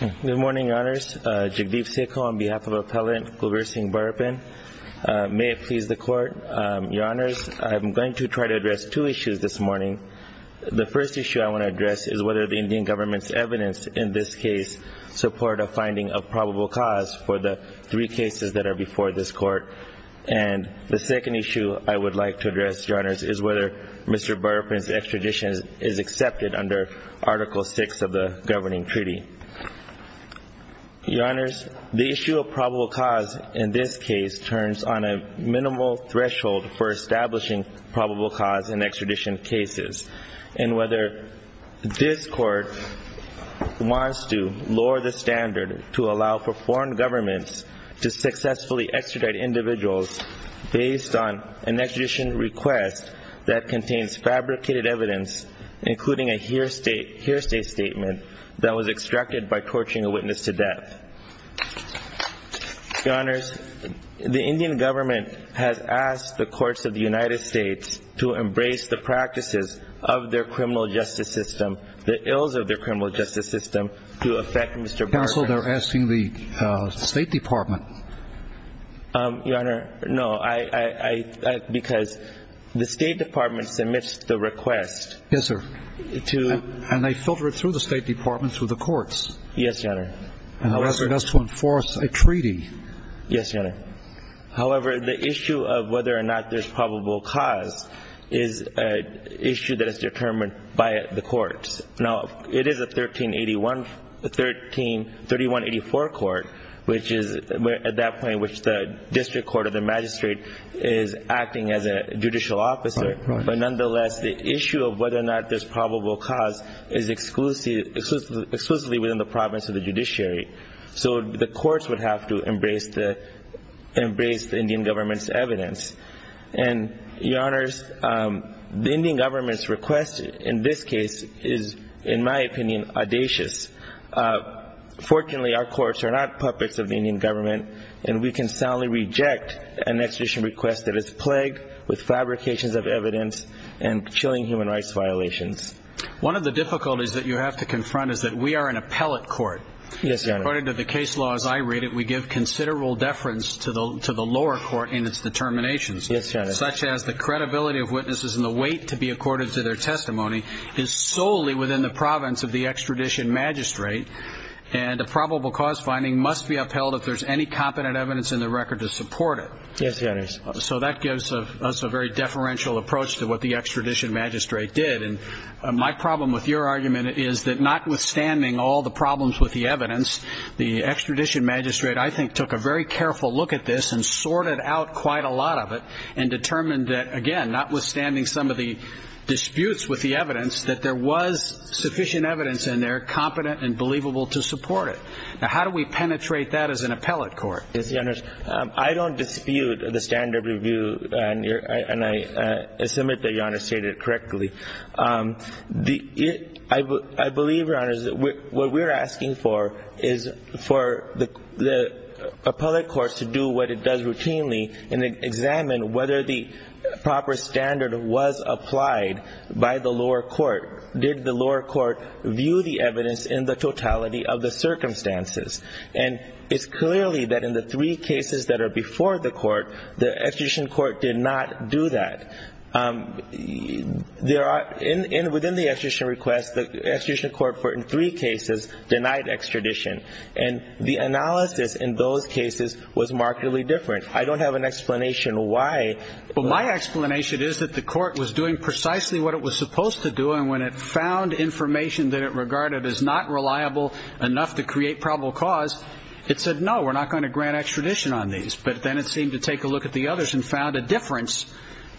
Good morning, Your Honors. Jagdeep Seko on behalf of Appellant Gulbir Singh Barapin. May it please the Court. Your Honors, I am going to try to address two issues this morning. The first issue I want to address is whether the Indian government's evidence in this case support a finding of probable cause for the three cases that are before this Court. And the second issue I would like to address, Your Honors, is whether Mr. Barapin's extradition is accepted under Article 6 of the Governing Treaty. Your Honors, the issue of probable cause in this case turns on a minimal threshold for establishing probable cause in extradition cases. And whether this Court wants to lower the standard to allow for foreign governments to successfully extradite individuals based on an extradition request that contains fabricated evidence, including a hearsay statement that was extracted from a record by torching a witness to death. Your Honors, the Indian government has asked the courts of the United States to embrace the practices of their criminal justice system, the ills of their criminal justice system, to effect Mr. Barapin. Counsel, they're asking the State Department. Your Honor, no, I, because the State Department submits the request to to and they filter it through the State Department through the courts. Yes, Your Honor. And the rest of us to enforce a treaty. Yes, Your Honor. However, the issue of whether or not there's probable cause is an issue that is determined by the courts. Now, it is a 1381, the 13, 3184 court, which is at that point, which the district court of the magistrate is acting as a judicial officer. But nonetheless, the issue of whether or not there's probable cause is exclusively within the province of the judiciary. So the courts would have to embrace the Indian government's evidence. And Your Honors, the Indian government's request in this case is, in my opinion, audacious. Fortunately, our courts are not puppets of the Indian government, and we can soundly reject an extradition request that is plagued with fabrications of evidence and chilling human rights violations. One of the difficulties that you have to confront is that we are an appellate court. Yes, Your Honor. According to the case law as I read it, we give considerable deference to the lower court in its determinations. Yes, Your Honor. Such as the credibility of witnesses and the weight to be accorded to their testimony is solely within the province of the extradition magistrate. And a probable cause finding must be upheld if there's any competent evidence in the record to support it. Yes, Your Honors. So that gives us a very deferential approach to what the extradition magistrate did. And my problem with your argument is that notwithstanding all the problems with the evidence, the extradition magistrate, I think, took a very careful look at this and sorted out quite a lot of it and determined that, again, notwithstanding some of the disputes with the evidence, that there was sufficient evidence in there, competent, and believable to support it. Now, how do we penetrate that as an appellate court? Yes, Your Honors. I don't dispute the standard of review, and I submit that Your Honor stated it correctly. I believe, Your Honors, what we're asking for is for the appellate courts to do what it does the lower court view the evidence in the totality of the circumstances. And it's clearly that in the three cases that are before the court, the extradition court did not do that. Within the extradition request, the extradition court, in three cases, denied extradition. And the analysis in those cases was markedly different. I don't have an explanation why. Well, my explanation is that the court was doing precisely what it was supposed to do and when it found information that it regarded as not reliable enough to create probable cause, it said, no, we're not going to grant extradition on these. But then it seemed to take a look at the others and found a difference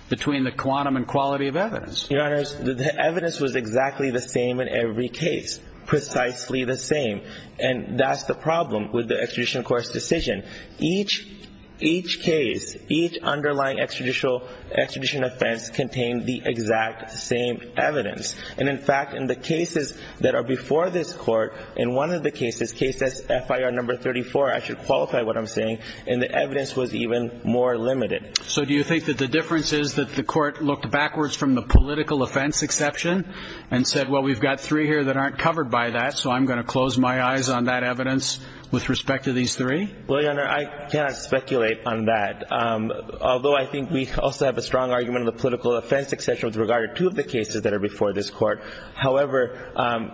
between the quantum and quality of evidence. Your Honors, the evidence was exactly the same in every case, precisely the same. And that's the problem with the extradition court's decision. Each case, each underlying extradition offense contained the exact same evidence. And in fact, in the cases that are before this court, in one of the cases, case that's FIR number 34, I should qualify what I'm saying, and the evidence was even more limited. So do you think that the difference is that the court looked backwards from the political offense exception and said, well, we've got three here that aren't covered by that, so I'm going to close my eyes on that evidence with respect to these three? Well, Your Honor, I cannot speculate on that. Although I think we also have a strong argument of the political offense exception with regard to two of the cases that are before this court. However,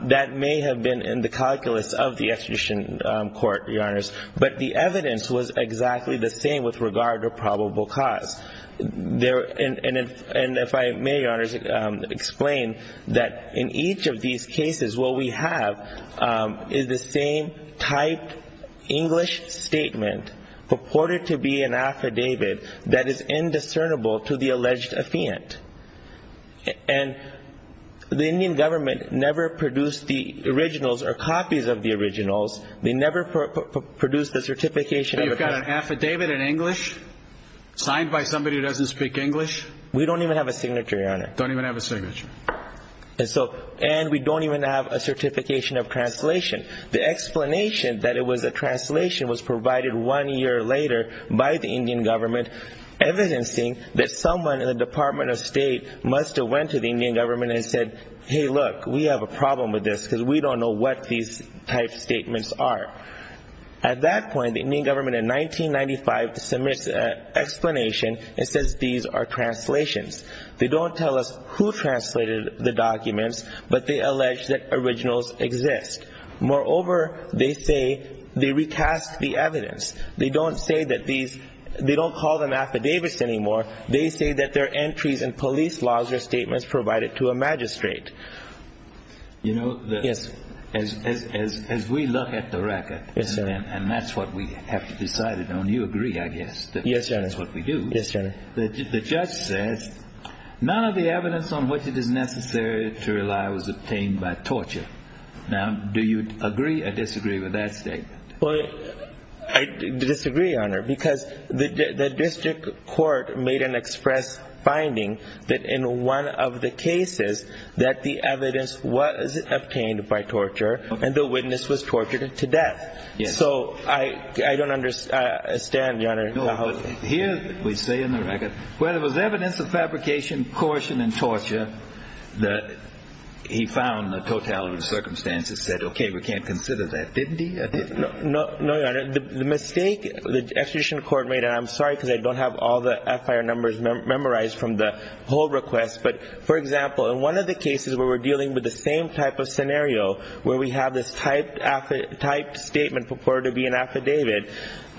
that may have been in the calculus of the extradition court, Your Honors. But the evidence was exactly the same with regard to probable cause. And if I may, Your Honors, explain that in each of these cases, what we have is the same typed English statement purported to be an affidavit that is indiscernible to the alleged affiant. And the Indian government never produced the originals or copies of the originals. They never produced the certification. So you've got an affidavit in English signed by somebody who doesn't speak English? We don't even have a signature, Your Honor. Don't even have a signature. And so, and we don't even have a certification of translation. The explanation that it was a translation was provided one year later by the Indian government, evidencing that someone in the Department of State must have went to the Indian government and said, hey, look, we have a problem with this because we don't know what these type statements are. At that point, the Indian government in 1995 submits an explanation and says these are translations. They don't tell us who translated the documents, but they allege that originals exist. Moreover, they say they recast the evidence. They don't say that these, they don't call them affidavits anymore. They say that they're entries in police laws or statements provided to a magistrate. You know, as we look at the record, and that's what we have to decide, and you agree, I guess, that that's what we do. Yes, Your Honor. The judge says none of the evidence on which it is necessary to rely was obtained by torture. Now, do you agree or disagree with that statement? Well, I disagree, Your Honor, because the district court made an express finding that in one of the cases that the evidence was obtained by torture and the witness was tortured to death. So, I don't understand, Your Honor. Here, we say in the record, where there was evidence of fabrication, coercion, and torture, that he found the totality of the circumstances said, okay, we can't consider that. Didn't he? No, Your Honor. The mistake the extradition court made, and I'm sorry because I don't have all the FIR numbers memorized from the whole request, but for example, in one of the cases where we're dealing with the same type of scenario where we have this typed statement purported to be an affidavit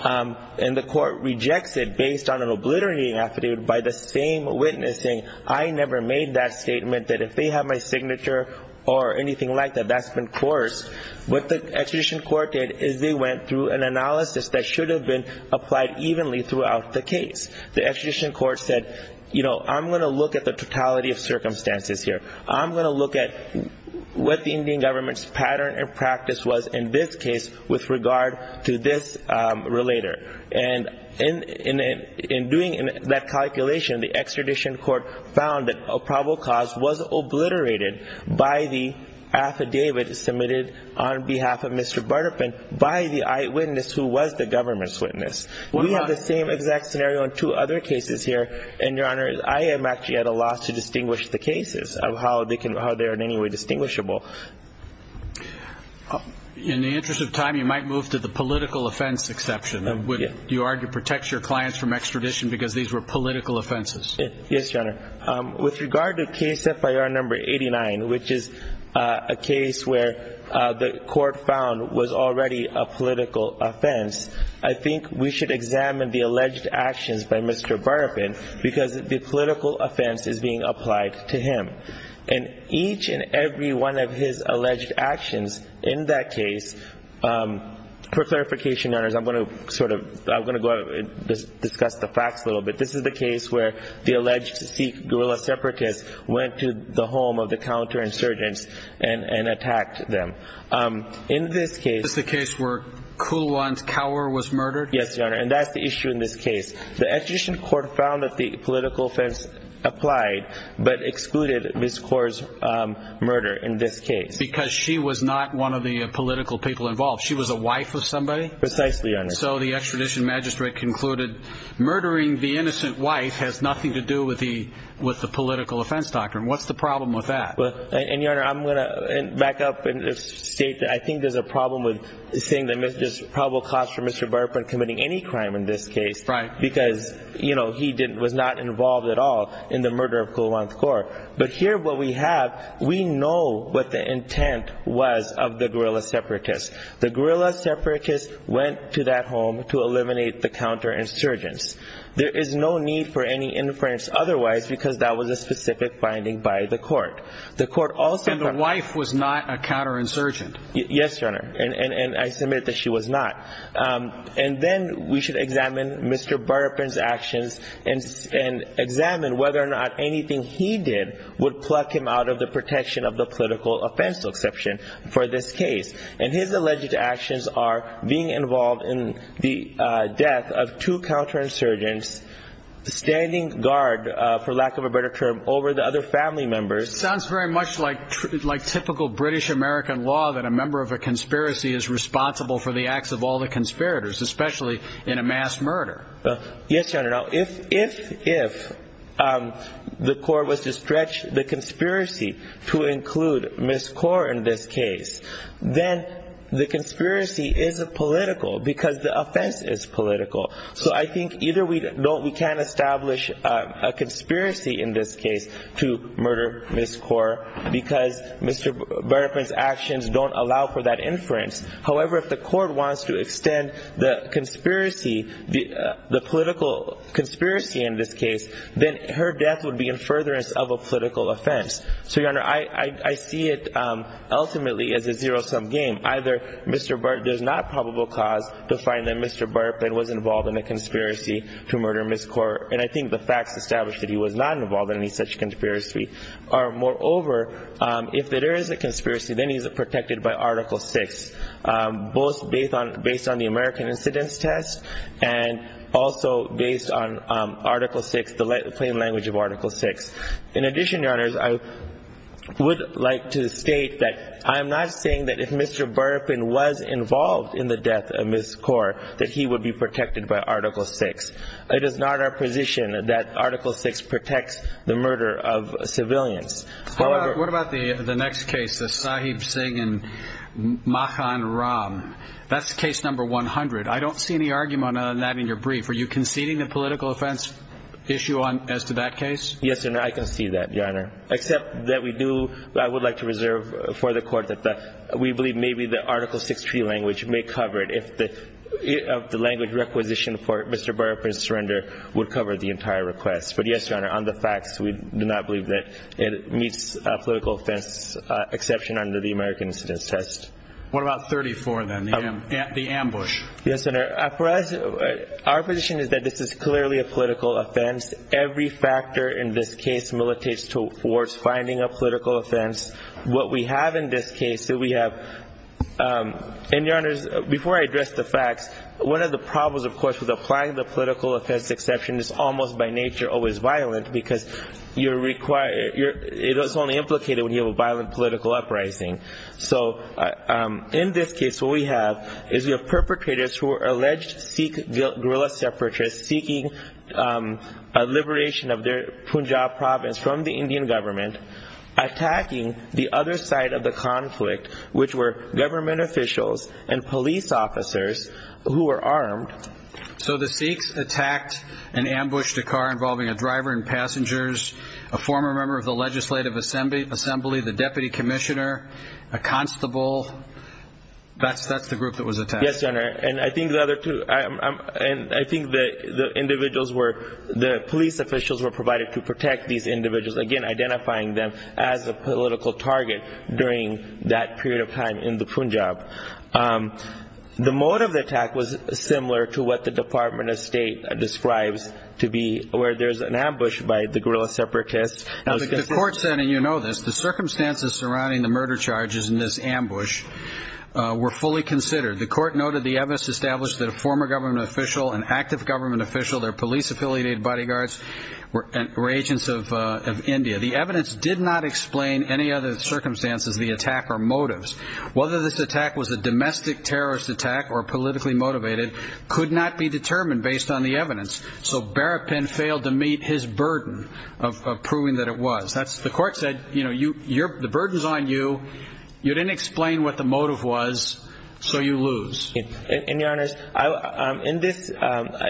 and the court rejects it based on an obliterating affidavit by the same witnessing, I never made that statement that if they have my signature or anything like that, that's been coerced. What the extradition court did is they went through an analysis that should have been applied evenly throughout the case. The extradition court said, you know, I'm going to look at the totality of circumstances here. I'm going to look at what the Indian government's pattern and practice was in this case with regard to this relator, and in doing that calculation, the extradition court found that a probable cause was obliterated by the affidavit submitted on behalf of Mr. Butterpin by the eyewitness who was the government's witness. We have the same exact scenario in two other cases here, and Your Honor, I am actually at a loss to distinguish the cases of how they are in any way distinguishable. In the interest of time, you might move to the political offense exception. Do you argue it protects your clients from extradition because these were political offenses? Yes, Your Honor. With regard to case FIR number 89, which is a case where the court found was already a political offense, I think we should examine the alleged actions by Mr. Butterpin because the political offense is being applied to him, and each and every one of his alleged actions in that case, for clarification, Your Honor, I'm going to discuss the facts a little bit. This is the case where the alleged Sikh guerrilla separatists went to the home of the counterinsurgents and attacked them. In this case... This is the case where Kulwant Kaur was murdered? Yes, Your Honor, and that's the issue in this case. The extradition court found that the political offense applied but excluded Ms. Kaur's murder in this case. Because she was not one of the political people involved. She was a wife of somebody? Precisely, Your Honor. So the extradition magistrate concluded murdering the innocent wife has nothing to do with the political offense doctrine. What's the problem with that? Well, and Your Honor, I'm going to back up and state that I think there's a problem with saying that there's probable cause for Mr. Butterpin committing any crime in this case because he was not involved at all in the murder of Kulwant Kaur. But here what we have, we know what the intent was of the guerrilla separatists. The guerrilla separatists went to that home to eliminate the counterinsurgents. There is no need for any inference otherwise because that was a specific finding by the court. The court also... And the wife was not a counterinsurgent? Yes, Your Honor, and I submit that she was not. And then we should examine Mr. Butterpin's actions and examine whether or not anything he did would pluck him out of the protection of the political offense exception for this case. And his alleged actions are being involved in the death of two counterinsurgents, standing guard, for lack of a better term, over the other family members. Sounds very much like typical British-American law that a member of a conspiracy is responsible for the acts of all the conspirators, especially in a mass murder. Well, yes, Your Honor. Now, if the court was to stretch the conspiracy to include Ms. Kaur in this case, then the conspiracy is political because the offense is political. So I think either we don't... We can't establish a conspiracy in this case to murder Ms. Kaur because Mr. Butterpin's actions don't allow for that inference. However, if the court wants to extend the conspiracy, the political conspiracy in this case, then her death would be in furtherance of a political offense. So, Your Honor, I see it ultimately as a zero-sum game. Either there's not probable cause to find that Mr. Butterpin was involved in a conspiracy to murder Ms. Kaur, and I think the facts establish that he was not involved in any such conspiracy, or moreover, if there is a conspiracy, then he's protected by Article 6, both based on the American incidence test and also based on Article 6, the plain language of Article 6. In addition, Your Honors, I would like to state that I'm not saying that if Mr. Butterpin was involved in the death of Ms. Kaur, that he would be protected by Article 6. It is not our position that Article 6 protects the murder of civilians. However— What about the next case, the Sahib Singh and Mahan Ram? That's case number 100. I don't see any argument on that in your brief. Are you conceding the political offense issue as to that case? Yes, Your Honor, I concede that, Your Honor, except that we do—I would like to reserve for the court that we believe maybe the Article 6 tree language may cover it. Of the language requisition for Mr. Butterpin's surrender would cover the entire request. But yes, Your Honor, on the facts, we do not believe that it meets a political offense exception under the American incidence test. What about 34, then, the ambush? Yes, Your Honor, for us, our position is that this is clearly a political offense. Every factor in this case militates towards finding a political offense. What we have in this case, we have— before I address the facts, one of the problems, of course, with applying the political offense exception is almost by nature always violent because you're required—it's only implicated when you have a violent political uprising. So in this case, what we have is we have perpetrators who are alleged Sikh guerrilla separatists seeking a liberation of their Punjab province from the Indian government, attacking the other side of the conflict, which were government officials and police officers who were armed. So the Sikhs attacked and ambushed a car involving a driver and passengers, a former member of the legislative assembly, the deputy commissioner, a constable. That's the group that was attacked. Yes, Your Honor. And I think the other two—and I think the individuals were— the police officials were provided to protect these individuals, again, identifying them as a political target during that period of time in the Punjab. The mode of the attack was similar to what the Department of State describes to be where there's an ambush by the guerrilla separatists. Now, the court said—and you know this— the circumstances surrounding the murder charges in this ambush were fully considered. The court noted the evidence established that a former government official, an active government official, their police-affiliated bodyguards were agents of India. The evidence did not explain any other circumstances of the attack or motives. Whether this attack was a domestic terrorist attack or politically motivated could not be determined based on the evidence. So Berrapin failed to meet his burden of proving that it was. The court said, you know, the burden's on you. You didn't explain what the motive was, so you lose. And, Your Honors,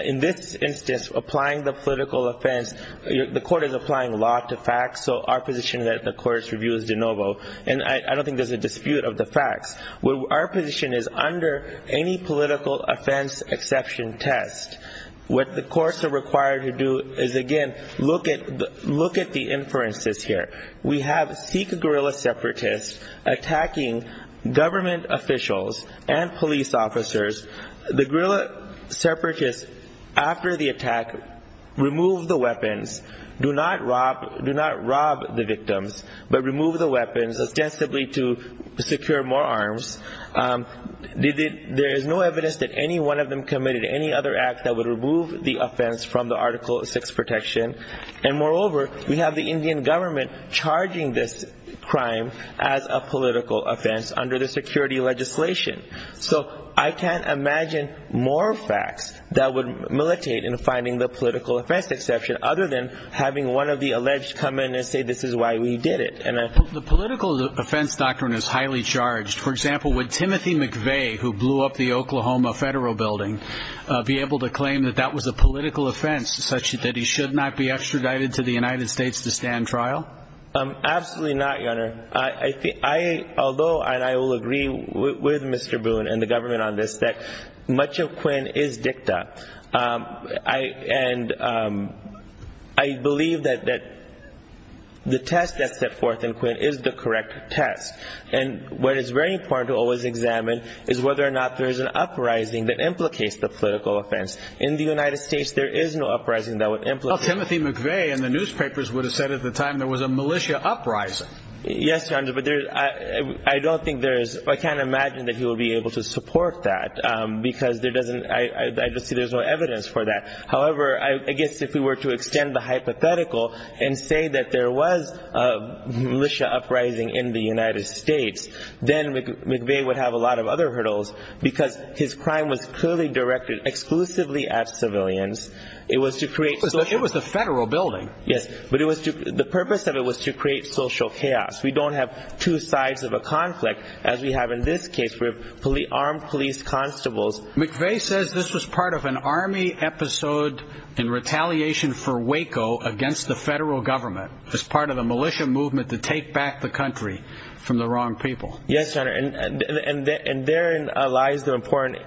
in this instance, applying the political offense, the court is applying law to facts, so our position is that the court's review is de novo. And I don't think there's a dispute of the facts. Our position is under any political offense exception test. What the courts are required to do is, again, look at the inferences here. We have Sikh guerrilla separatists attacking government officials and police officers. The guerrilla separatists, after the attack, removed the weapons, do not rob the victims, but remove the weapons ostensibly to secure more arms. There is no evidence that any one of them committed any other act that would remove the offense from the Article 6 protection. And moreover, we have the Indian government charging this crime as a political offense under the security legislation. So I can't imagine more facts that would militate in finding the political offense exception other than having one of the alleged come in and say, this is why we did it. And I think the political offense doctrine is highly charged. For example, would Timothy McVeigh, who blew up the Oklahoma Federal Building, be able to claim that that was a political offense such that he should not be extradited to the United States to stand trial? Absolutely not, Your Honor. I, although, and I will agree with Mr. Boone and the government on this, that much of Quinn is dicta. And I believe that the test that's set forth in Quinn is the correct test. And what is very important to always examine is whether or not there is an uprising that implicates the political offense. In the United States, there is no uprising that would implicate. Timothy McVeigh in the newspapers would have said at the time there was a militia uprising. Yes, Your Honor, but I don't think there is. I can't imagine that he will be able to support that because there doesn't. I just see there's no evidence for that. However, I guess if we were to extend the hypothetical and say that there was a militia uprising in the United States, then McVeigh would have a lot of other hurdles because his crime was clearly directed exclusively at civilians. It was to create. It was the Federal Building. Yes, but it was the purpose of it was to create social chaos. We don't have two sides of a conflict as we have in this case with fully armed police constables. McVeigh says this was part of an army episode in retaliation for Waco against the federal government as part of the militia movement to take back the country from the wrong people. Yes, Your Honor, and therein lies the important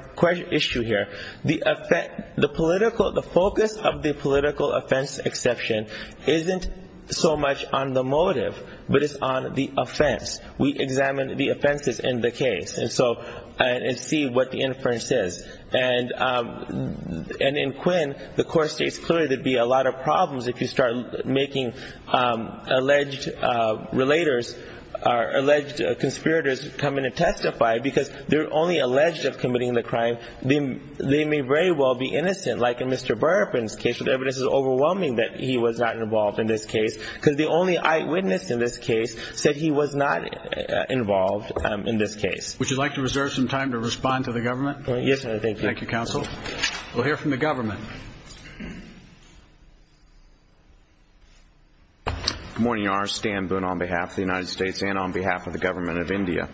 issue here. The effect, the political, the focus of the political offense exception isn't so much on the motive, but it's on the offense. We examine the offenses in the case and so and see what the inference is. And in Quinn, the court states clearly there'd be a lot of problems if you start making alleged relators, alleged conspirators come in and testify because they're only alleged of committing the crime. They may very well be innocent, like in Mr. Burpin's case, but the evidence is overwhelming that he was not involved in this case because the only eyewitness in this case said he was not involved in this case. Would you like to reserve some time to respond to the government? Yes, sir. Thank you. Thank you, counsel. We'll hear from the government. Good morning, Your Honor. Stan Boone on behalf of the United States and on behalf of the government of India.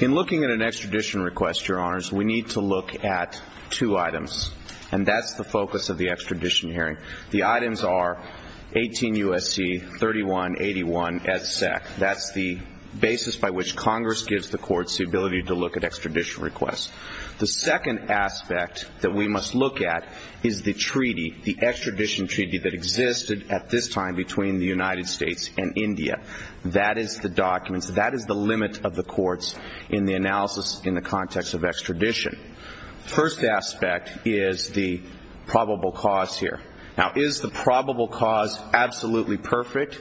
In looking at an extradition request, Your Honors, we need to look at two items, and that's the focus of the extradition hearing. The items are 18 U.S.C. 3181 as set. That's the basis by which Congress gives the courts the ability to look at extradition requests. The second aspect that we must look at is the treaty, the extradition treaty that existed at this time between the United States and India. That is the documents, that is the limit of the courts in the analysis in the context of extradition. First aspect is the probable cause here. Now, is the probable cause absolutely perfect?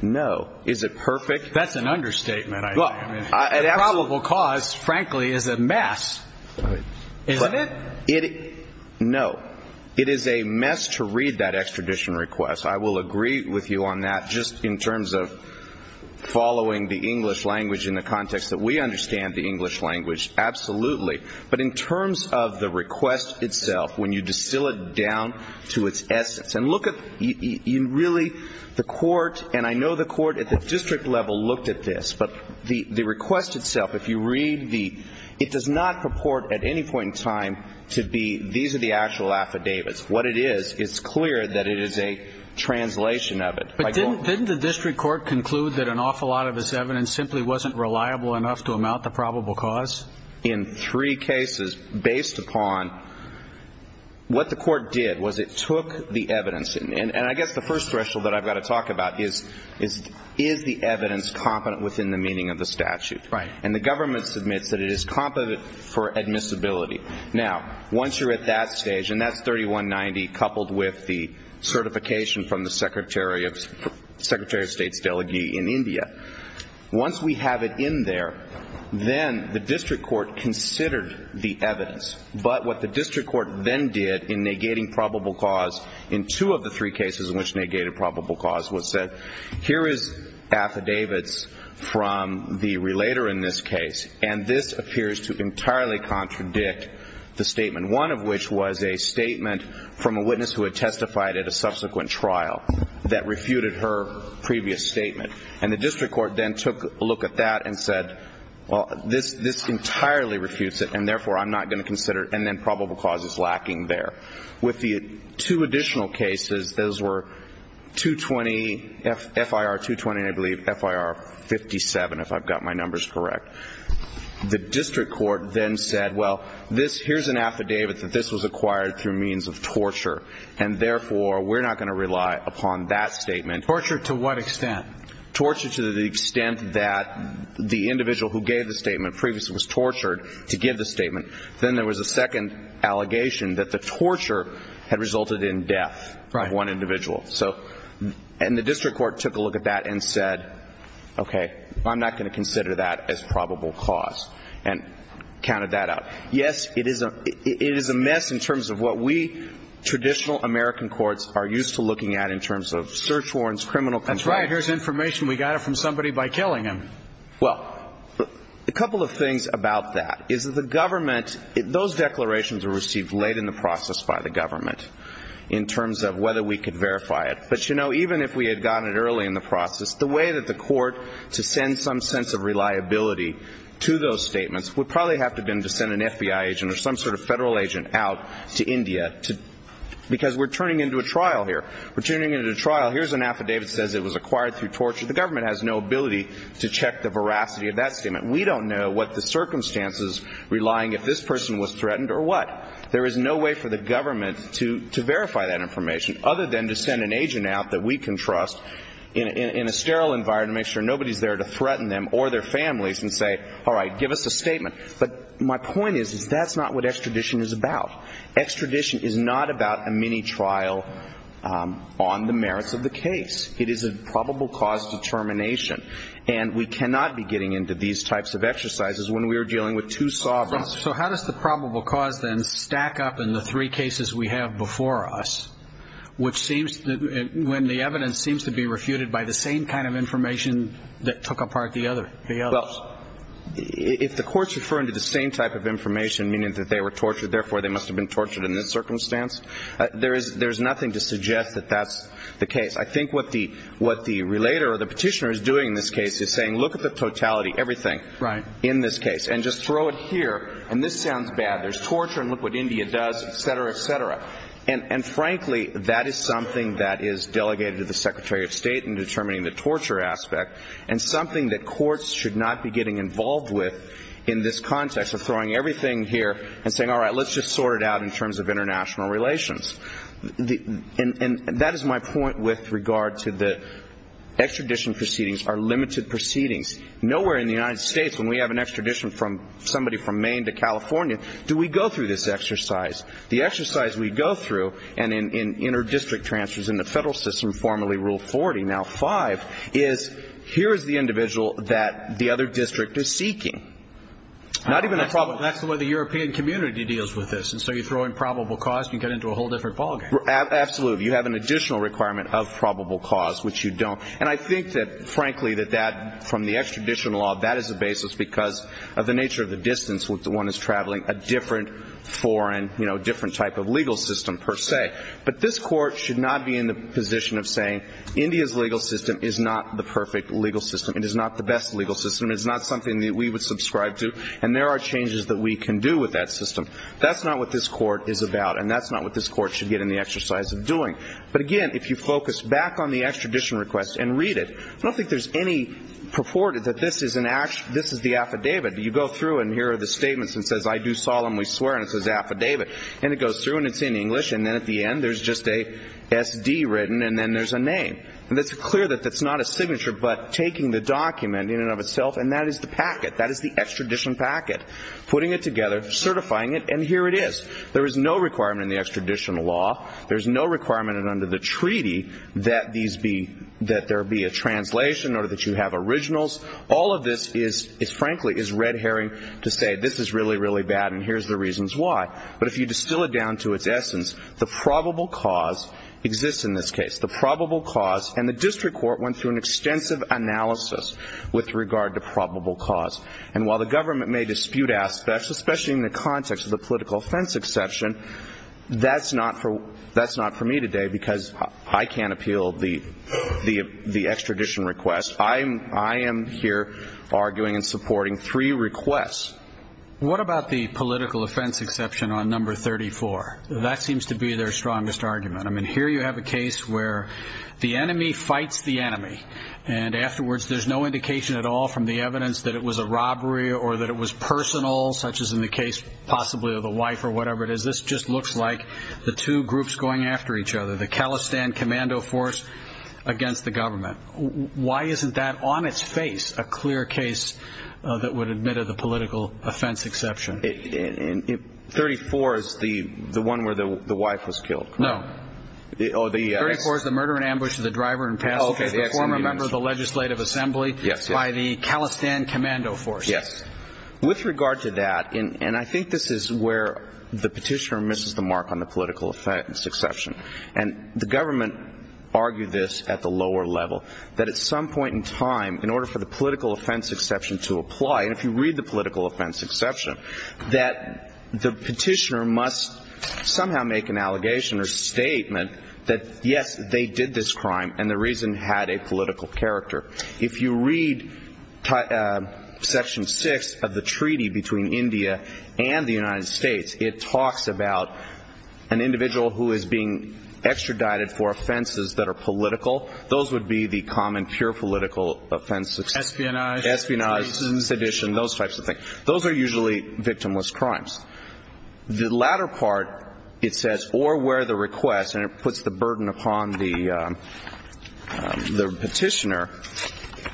No. Is it perfect? That's an understatement. I mean, the probable cause, frankly, is a mess. Isn't it? No. It is a mess to read that extradition request. I will agree with you on that just in terms of the English language, absolutely. But in terms of the request itself, when you distill it down to its essence, and look at really the court, and I know the court at the district level looked at this, but the request itself, if you read the, it does not purport at any point in time to be these are the actual affidavits. What it is, it's clear that it is a translation of it. But didn't the district court conclude that an awful lot of this evidence simply wasn't reliable enough to amount the probable cause? In three cases, based upon what the court did, was it took the evidence, and I guess the first threshold that I've got to talk about is, is the evidence competent within the meaning of the statute? Right. And the government submits that it is competent for admissibility. Now, once you're at that stage, and that's 3190 coupled with the certification from the Secretary of State's Delegee in India, once we have it in there, then the district court considered the evidence. But what the district court then did in negating probable cause in two of the three cases in which negated probable cause was said, here is affidavits from the relator in this case, and this appears to entirely contradict the statement, one of which was a statement from a witness who had testified at a subsequent trial that refuted her previous statement. And the district court then took a look at that and said, well, this entirely refutes it, and therefore, I'm not going to consider it, and then probable cause is lacking there. With the two additional cases, those were 220, FIR 220, I believe, FIR 57, if I've got my numbers correct. The district court then said, well, here's an affidavit that this was acquired through means of torture, and therefore, we're not going to rely upon that statement. Torture to what extent? Torture to the extent that the individual who gave the statement previously was tortured to give the statement. Then there was a second allegation that the torture had resulted in death of one individual. And the district court took a look at that and said, okay, I'm not going to consider that as probable cause and counted that out. Yes, it is a mess in terms of what we traditional American courts are used to looking at in terms of search warrants, criminal complaints. Here's information. We got it from somebody by killing him. Well, a couple of things about that is that the government, those declarations were received late in the process by the government in terms of whether we could verify it. But, you know, even if we had gotten it early in the process, the way that the court to send some sense of reliability to those statements would probably have been to send an FBI agent or some sort of federal agent out to India because we're turning into a trial here. We're turning into a trial. Here's an affidavit says it was acquired through torture. The government has no ability to check the veracity of that statement. We don't know what the circumstances relying if this person was threatened or what. There is no way for the government to verify that information other than to send an agent out that we can trust in a sterile environment to make sure nobody's there to threaten them or their families and say, all right, give us a statement. But my point is that's not what extradition is about. Extradition is not about a mini trial on the merits of the case. It is a probable cause determination. And we cannot be getting into these types of exercises when we are dealing with two sovereigns. So how does the probable cause then stack up in the three cases we have before us, which seems when the evidence seems to be refuted by the same kind of information that took apart the other? Well, if the courts refer into the same type of information, meaning that they were tortured, therefore they must have been tortured in this circumstance. There's nothing to suggest that that's the case. I think what the relator or the petitioner is doing in this case is saying, look at the totality, everything in this case and just throw it here. And this sounds bad. There's torture and look what India does, et cetera, et cetera. And frankly, that is something that is delegated to the Secretary of State in determining the torture aspect and something that courts should not be getting involved with in this context of throwing everything here and saying, all right, let's just sort it out in terms of international relations. And that is my point with regard to the extradition proceedings, our limited proceedings. Nowhere in the United States when we have an extradition from somebody from Maine to California, do we go through this exercise. The exercise we go through and in inter-district transfers in the federal system, formerly Rule 40, now five, is here is the individual that the other district is seeking. Not even a problem. That's the way the European community deals with this. So you throw in probable cause, you get into a whole different ballgame. Absolutely. You have an additional requirement of probable cause, which you don't. And I think that, frankly, that that from the extradition law, that is the basis because of the nature of the distance with the one is traveling a different foreign, different type of legal system per se. But this court should not be in the position of saying India's legal system is not the perfect legal system. It is not the best legal system. It's not something that we would subscribe to. And there are changes that we can do with that system. That's not what this court is about. And that's not what this court should get in the exercise of doing. But again, if you focus back on the extradition request and read it, I don't think there's any purported that this is the affidavit. You go through and hear the statements and says, I do solemnly swear. And it says affidavit. And it goes through and it's in English. And then at the end, there's just a SD written and then there's a name. And that's clear that that's not a signature, but taking the document in and of itself. And that is the packet. That is the extradition packet. Putting it together, certifying it, and here it is. There is no requirement in the extradition law. There's no requirement under the treaty that these be that there be a translation or that you have originals. All of this is frankly, is red herring to say this is really, really bad. And here's the reasons why. But if you distill it down to its essence, the probable cause exists in this case, the probable cause. And the district court went through an extensive analysis with regard to probable cause. And while the government may dispute aspects, especially in the context of the political offense exception, that's not for me today because I can't appeal the extradition request. I am here arguing and supporting three requests. And what about the political offense exception on number 34? That seems to be their strongest argument. I mean, here you have a case where the enemy fights the enemy. And afterwards, there's no indication at all from the evidence that it was a robbery or that it was personal, such as in the case possibly of the wife or whatever it is. This just looks like the two groups going after each other, the Khalistan Commando Force against the government. Why isn't that on its face a clear case that would admit to the political offense exception? 34 is the one where the wife was killed. No. 34 is the murder and ambush of the driver and passenger former member of the Legislative Assembly by the Khalistan Commando Force. Yes. With regard to that, and I think this is where the petitioner misses the mark on the political offense exception. And the government argued this at the lower level, that at some point in time, in order for the political offense exception to apply, and if you read the political offense exception, that the petitioner must somehow make an allegation or statement that, yes, they did this crime and the reason had a political character. If you read Section 6 of the Treaty between India and the United States, it talks about an individual who is being extradited for offenses that are political. Those would be the common pure political offenses. Espionage. Espionage, sedition, those types of things. Those are usually victimless crimes. The latter part, it says, or where the request, and it puts the burden upon the petitioner,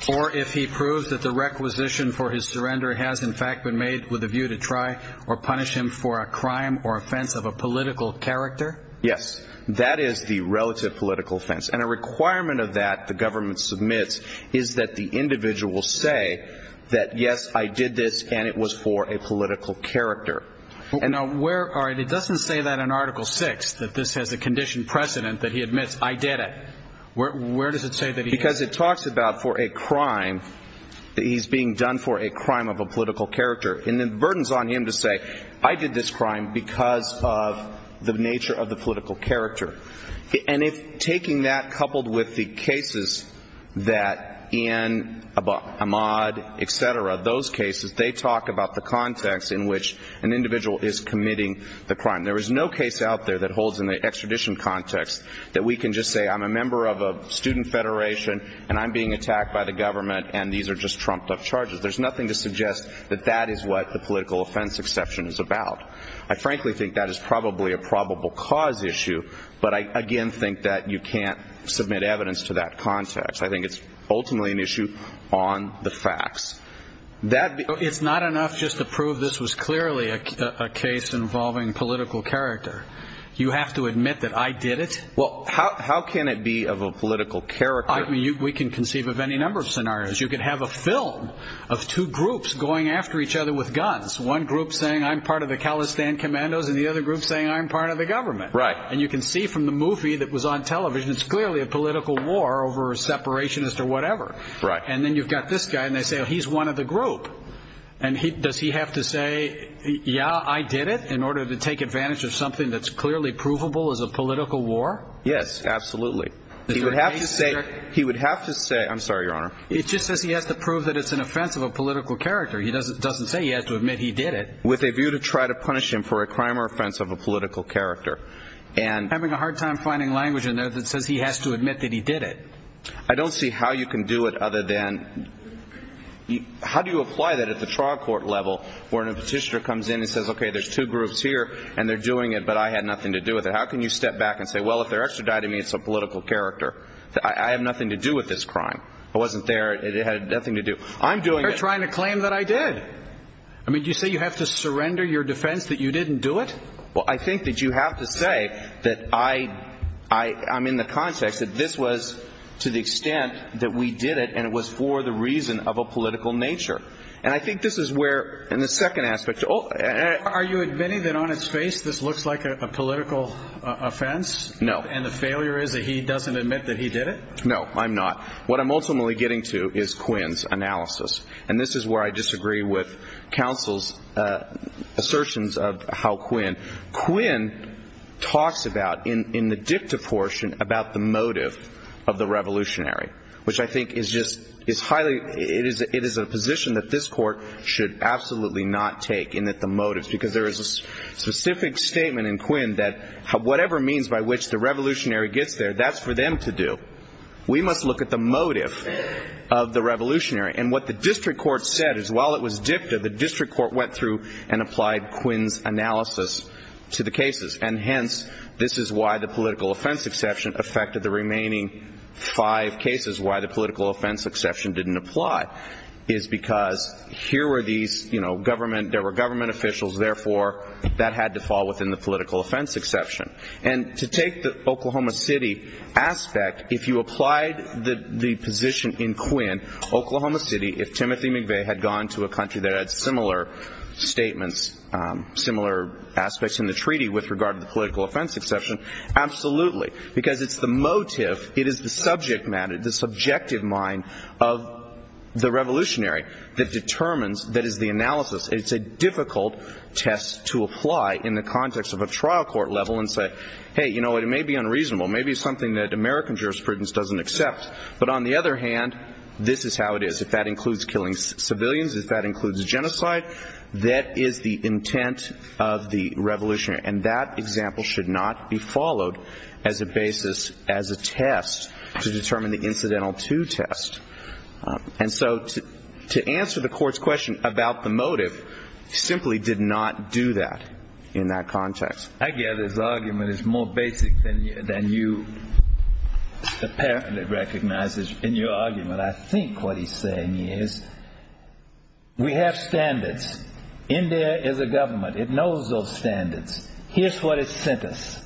or if he proves that the requisition for his surrender has, in fact, been made with a view to try or punish him for a crime or offense of a political character. Yes, that is the relative political offense, and a requirement of that the government submits is that the individual say that, yes, I did this and it was for a political character. And now, where are, it doesn't say that in Article 6, that this has a conditioned precedent that he admits I did it. Where does it say that? Because it talks about for a crime that he's being done for a crime of a political character, and the burden's on him to say, I did this crime because of the nature of the political character. And if taking that coupled with the cases that in Ahmad, et cetera, those cases, they talk about the context in which an individual is committing the crime. There is no case out there that holds in the extradition context that we can just say, I'm a member of a student federation and I'm being attacked by the government and these are just trumped up charges. There's nothing to suggest that that is what the political offense exception is about. I frankly think that is probably a probable cause issue, but I, again, think that you can't submit evidence to that context. I think it's ultimately an issue on the facts. It's not enough just to prove this was clearly a case involving political character. You have to admit that I did it? Well, how can it be of a political character? We can conceive of any number of scenarios. You could have a film of two groups going after each other with guns. One group saying I'm part of the Khalistan commandos and the other group saying I'm part of the government. Right. And you can see from the movie that was on television, it's clearly a political war over a separationist or whatever. Right. And then you've got this guy and they say, well, he's one of the group. And does he have to say, yeah, I did it in order to take advantage of something that's clearly provable as a political war? Yes, absolutely. He would have to say, he would have to say, I'm sorry, Your Honor. It just says he has to prove that it's an offense of a political character. He doesn't doesn't say he has to admit he did it with a view to try to punish him for a crime or offense of a political character. And having a hard time finding language in there that says he has to admit that he did it. I don't see how you can do it other than how do you apply that at the trial court level where a petitioner comes in and says, OK, there's two groups here and they're doing it, but I had nothing to do with it. How can you step back and say, well, if they're extraditing me, it's a political character. I have nothing to do with this crime. I wasn't there. It had nothing to do. I'm doing trying to claim that I did. I mean, you say you have to surrender your defense that you didn't do it. Well, I think that you have to say that I I I'm in the context that this was to the extent that we did it. And it was for the reason of a political nature. And I think this is where in the second aspect, are you admitting that on its face, this looks like a political offense? No. And the failure is that he doesn't admit that he did it. No, I'm not. What I'm ultimately getting to is Quinn's analysis. And this is where I disagree with counsel's assertions of how Quinn Quinn talks about in the dicta portion about the motive of the revolutionary, which I think is just is highly it is it is a position that this court should absolutely not take in that the motives because there is a specific statement in Quinn that whatever means by which the revolutionary gets there, that's for them to do. We must look at the motive of the revolutionary. And what the district court said is while it was dicta, the district court went through and applied Quinn's analysis to the cases. And hence, this is why the political offense exception affected the remaining five cases. Why the political offense exception didn't apply is because here were these government there were government officials. Therefore, that had to fall within the political offense exception. And to take the Oklahoma City aspect, if you applied the position in Quinn, Oklahoma City, if Timothy McVeigh had gone to a country that had similar statements, similar aspects in the treaty with regard to the political offense exception. Absolutely. Because it's the motive. It is the subject matter, the subjective mind of the revolutionary that determines that is the analysis. It's a difficult test to apply in the context of a trial court level and say, hey, you know, it may be unreasonable. Maybe it's something that American jurisprudence doesn't accept. But on the other hand, this is how it is. If that includes killing civilians, if that includes genocide, that is the intent of the revolutionary. And that example should not be followed as a basis as a test to determine the incidental to test. And so to answer the court's question about the motive simply did not do that in that context. I get this argument is more basic than you. It apparently recognizes in your argument, I think what he's saying is we have standards. India is a government. It knows those standards. Here's what it sent us.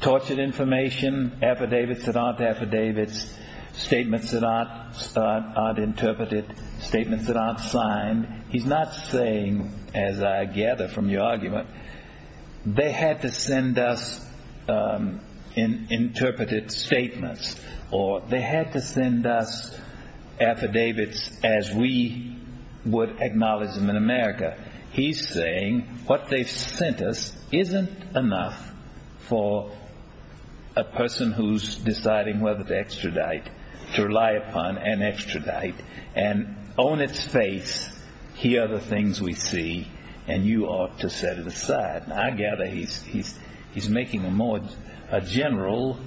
Tortured information, affidavits that aren't affidavits, statements that aren't interpreted, statements that aren't signed. He's not saying, as I gather from your argument, they had to send us interpreted statements or they had to send us affidavits as we would acknowledge them in America. He's saying what they've sent us isn't enough for a person who's deciding whether to extradite, to rely upon an extradite and own its face. Here are the things we see and you ought to set it aside. I gather he's making a general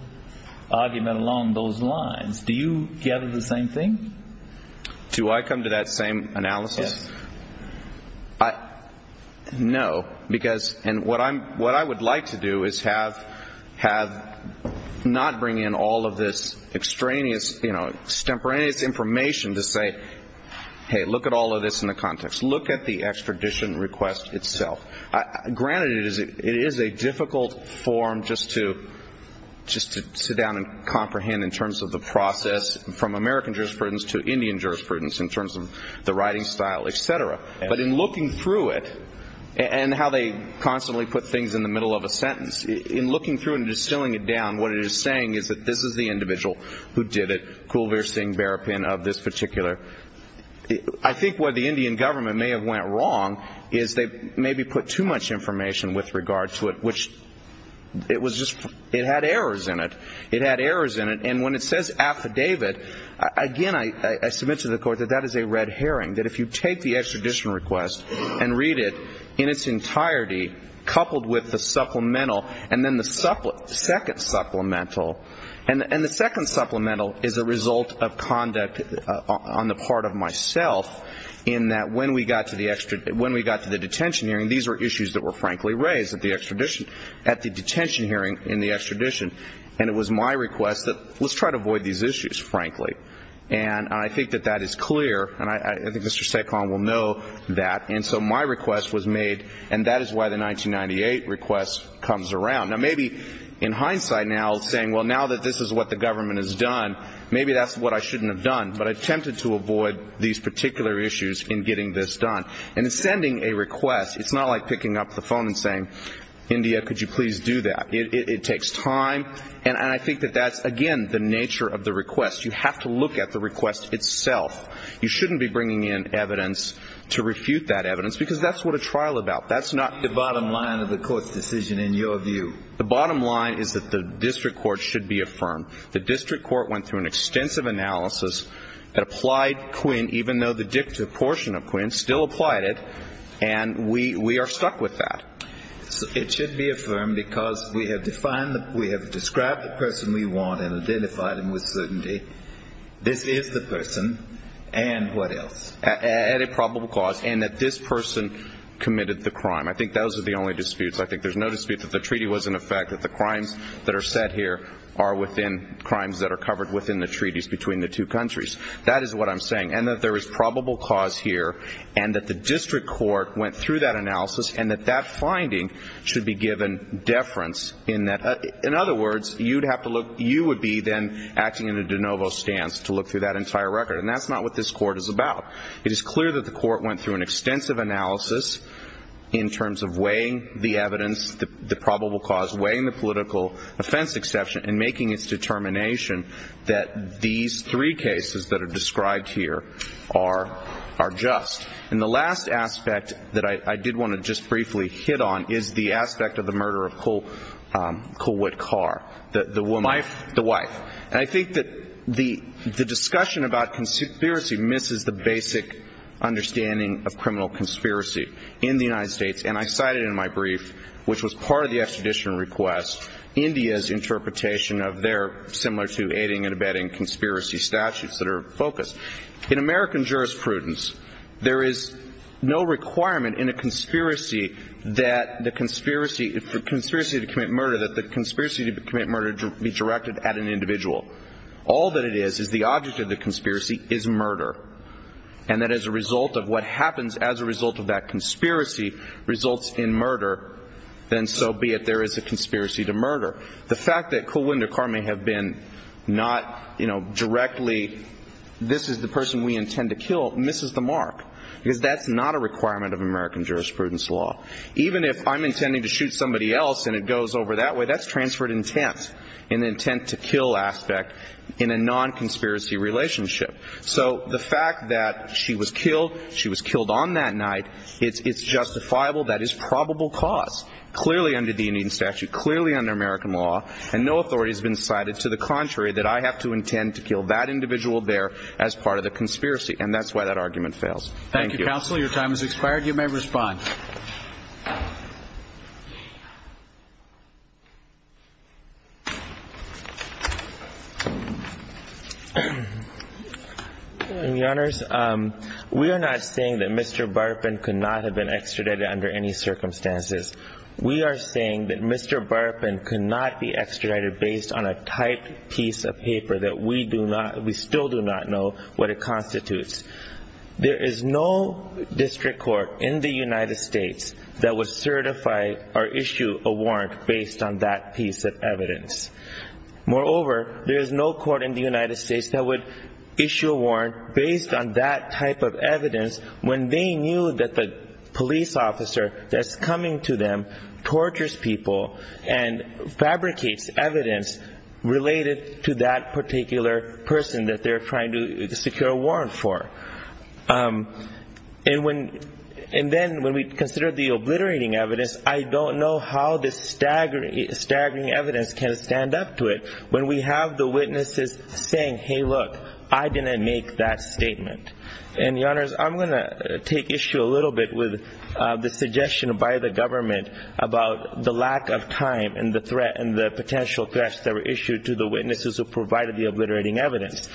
argument along those lines. Do you gather the same thing? Do I come to that same analysis? No, because and what I'm what I would like to do is have have not bring in all of this extraneous, you know, temperance information to say, hey, look at all of this in the context. Look at the extradition request itself. Granted, it is a difficult form just to just to sit down and comprehend in terms of the process from American jurisprudence to Indian jurisprudence in terms of the writing style, et cetera. But in looking through it and how they constantly put things in the middle of a sentence in looking through and distilling it down, what it is saying is that this is the individual who did it. Kulveer Singh Berrapin of this particular. I think what the Indian government may have went wrong is they maybe put too much information with regard to it, which it was just it had errors in it. It had errors in it. And when it says affidavit, again, I submit to the court that that is a red herring, that if you take the extradition request and read it in its entirety, coupled with the supplemental and then the second supplemental and the second supplemental is a result of conduct on the part of myself in that when we got to the extra, when we got to the detention hearing, these were issues that were frankly raised at the detention hearing in the extradition. And it was my request that let's try to avoid these issues, frankly. And I think that that is clear. And I think Mr. Sekhon will know that. And so my request was made. And that is why the 1998 request comes around. Now, maybe in hindsight now saying, well, now that this is what the government has done, maybe that's what I shouldn't have done. But I attempted to avoid these particular issues in getting this done. And sending a request, it's not like picking up the phone and saying, India, could you please do that? It takes time. And I think that that's, again, the nature of the request. You have to look at the request itself. You shouldn't be bringing in evidence to refute that evidence, because that's what a trial about. That's not the bottom line of the court's decision, in your view. The bottom line is that the district court should be affirmed. The district court went through an extensive analysis that applied Quinn, even though the dicta portion of Quinn still applied it. And we are stuck with that. It should be affirmed, because we have defined, we have described the person we want, and identified him with certainty. This is the person. And what else? And a probable cause. And that this person committed the crime. I think those are the only disputes. I think there's no dispute that the treaty was in effect. That the crimes that are set here are within crimes that are covered within the treaties between the two countries. That is what I'm saying. And that there is probable cause here. And that the district court went through that analysis. And that that finding should be given deference in that. In other words, you'd have to look, you would be then acting in a de novo stance to look through that entire record. And that's not what this court is about. It is clear that the court went through an extensive analysis in terms of weighing the evidence, the probable cause, weighing the political offense exception, and making its determination that these three cases that are described here are just. And the last aspect that I did want to just briefly hit on is the aspect of the murder of Colwood Carr, the woman, the wife. And I think that the discussion about conspiracy misses the basic understanding of criminal conspiracy in the United States. And I cited in my brief, which was part of the extradition request, India's interpretation of their similar to aiding and abetting conspiracy statutes that are focused. In American jurisprudence, there is no requirement in a conspiracy that the conspiracy to commit murder, that the conspiracy to commit murder be directed at an individual. All that it is, is the object of the conspiracy is murder. And that as a result of what happens as a result of that conspiracy, results in murder, then so be it. There is a conspiracy to murder. The fact that Colwood Carr may have been not directly, this is the person we intend to kill, misses the mark. Because that's not a requirement of American jurisprudence law. Even if I'm intending to shoot somebody else and it goes over that way, that's transferred intent in the intent to kill aspect in a non-conspiracy relationship. So the fact that she was killed, she was killed on that night, it's justifiable. That is probable cause, clearly under the Indian statute, clearly under American law. And no authority has been cited to the contrary that I have to intend to kill that individual there as part of the conspiracy. And that's why that argument fails. Thank you, counsel. Your time has expired. You may respond. Your Honors, we are not saying that Mr. Barfin could not have been extradited under any circumstances. We are saying that Mr. Barfin could not be extradited based on a typed piece of paper that we do not, we still do not know what it constitutes. There is no district court in the United States that would certify or issue a warrant based on that piece of evidence. Moreover, there is no court in the United States that would issue a warrant based on that type of evidence when they knew that the police officer that's coming to them tortures people and fabricates evidence related to that particular person that they're trying to And when, and then when we consider the obliterating evidence, I don't know how this staggering evidence can stand up to it when we have the witnesses saying, hey, look, I didn't make that statement. And Your Honors, I'm going to take issue a little bit with the suggestion by the government about the lack of time and the threat and the potential threats that were issued to the witnesses who provided the obliterating evidence.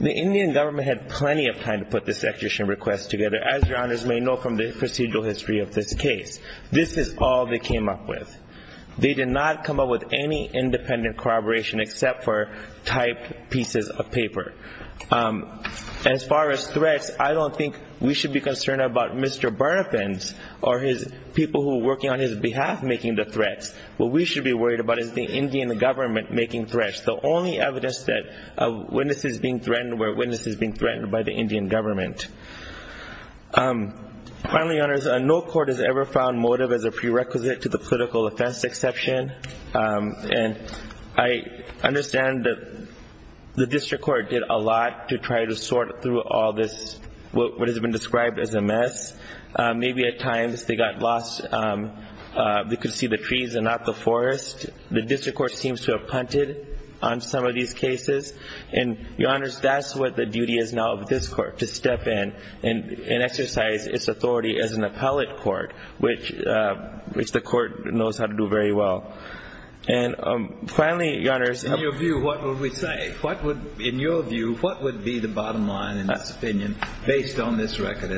The Indian government had plenty of time to put this execution request together. As Your Honors may know from the procedural history of this case, this is all they came up with. They did not come up with any independent corroboration except for type pieces of paper. As far as threats, I don't think we should be concerned about Mr. Burnapin's or his people who are working on his behalf making the threats. What we should be worried about is the Indian government making threats. The only evidence that a witness is being threatened where a witness is being threatened by the Indian government. Finally, Your Honors, no court has ever found motive as a prerequisite to the political offense exception. And I understand that the district court did a lot to try to sort through all this what has been described as a mess. Maybe at times they got lost. and not the forest. The district court seems to have punted on some of these cases. And Your Honors, that's what the duty is now of this court to step in and exercise its authority as an appellate court, which the court knows how to do very well. And finally, Your Honors. In your view, what would we say? In your view, what would be the bottom line in this opinion based on this record?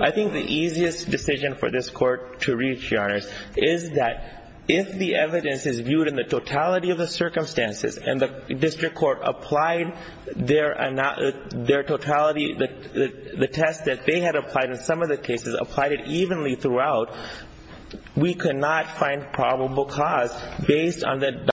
I think the easiest decision for this court to reach, Your Honors, is that if the evidence is viewed in the totality of the circumstances and the district court applied their totality, the test that they had applied in some of the cases, applied it evenly throughout, we could not find probable cause based on the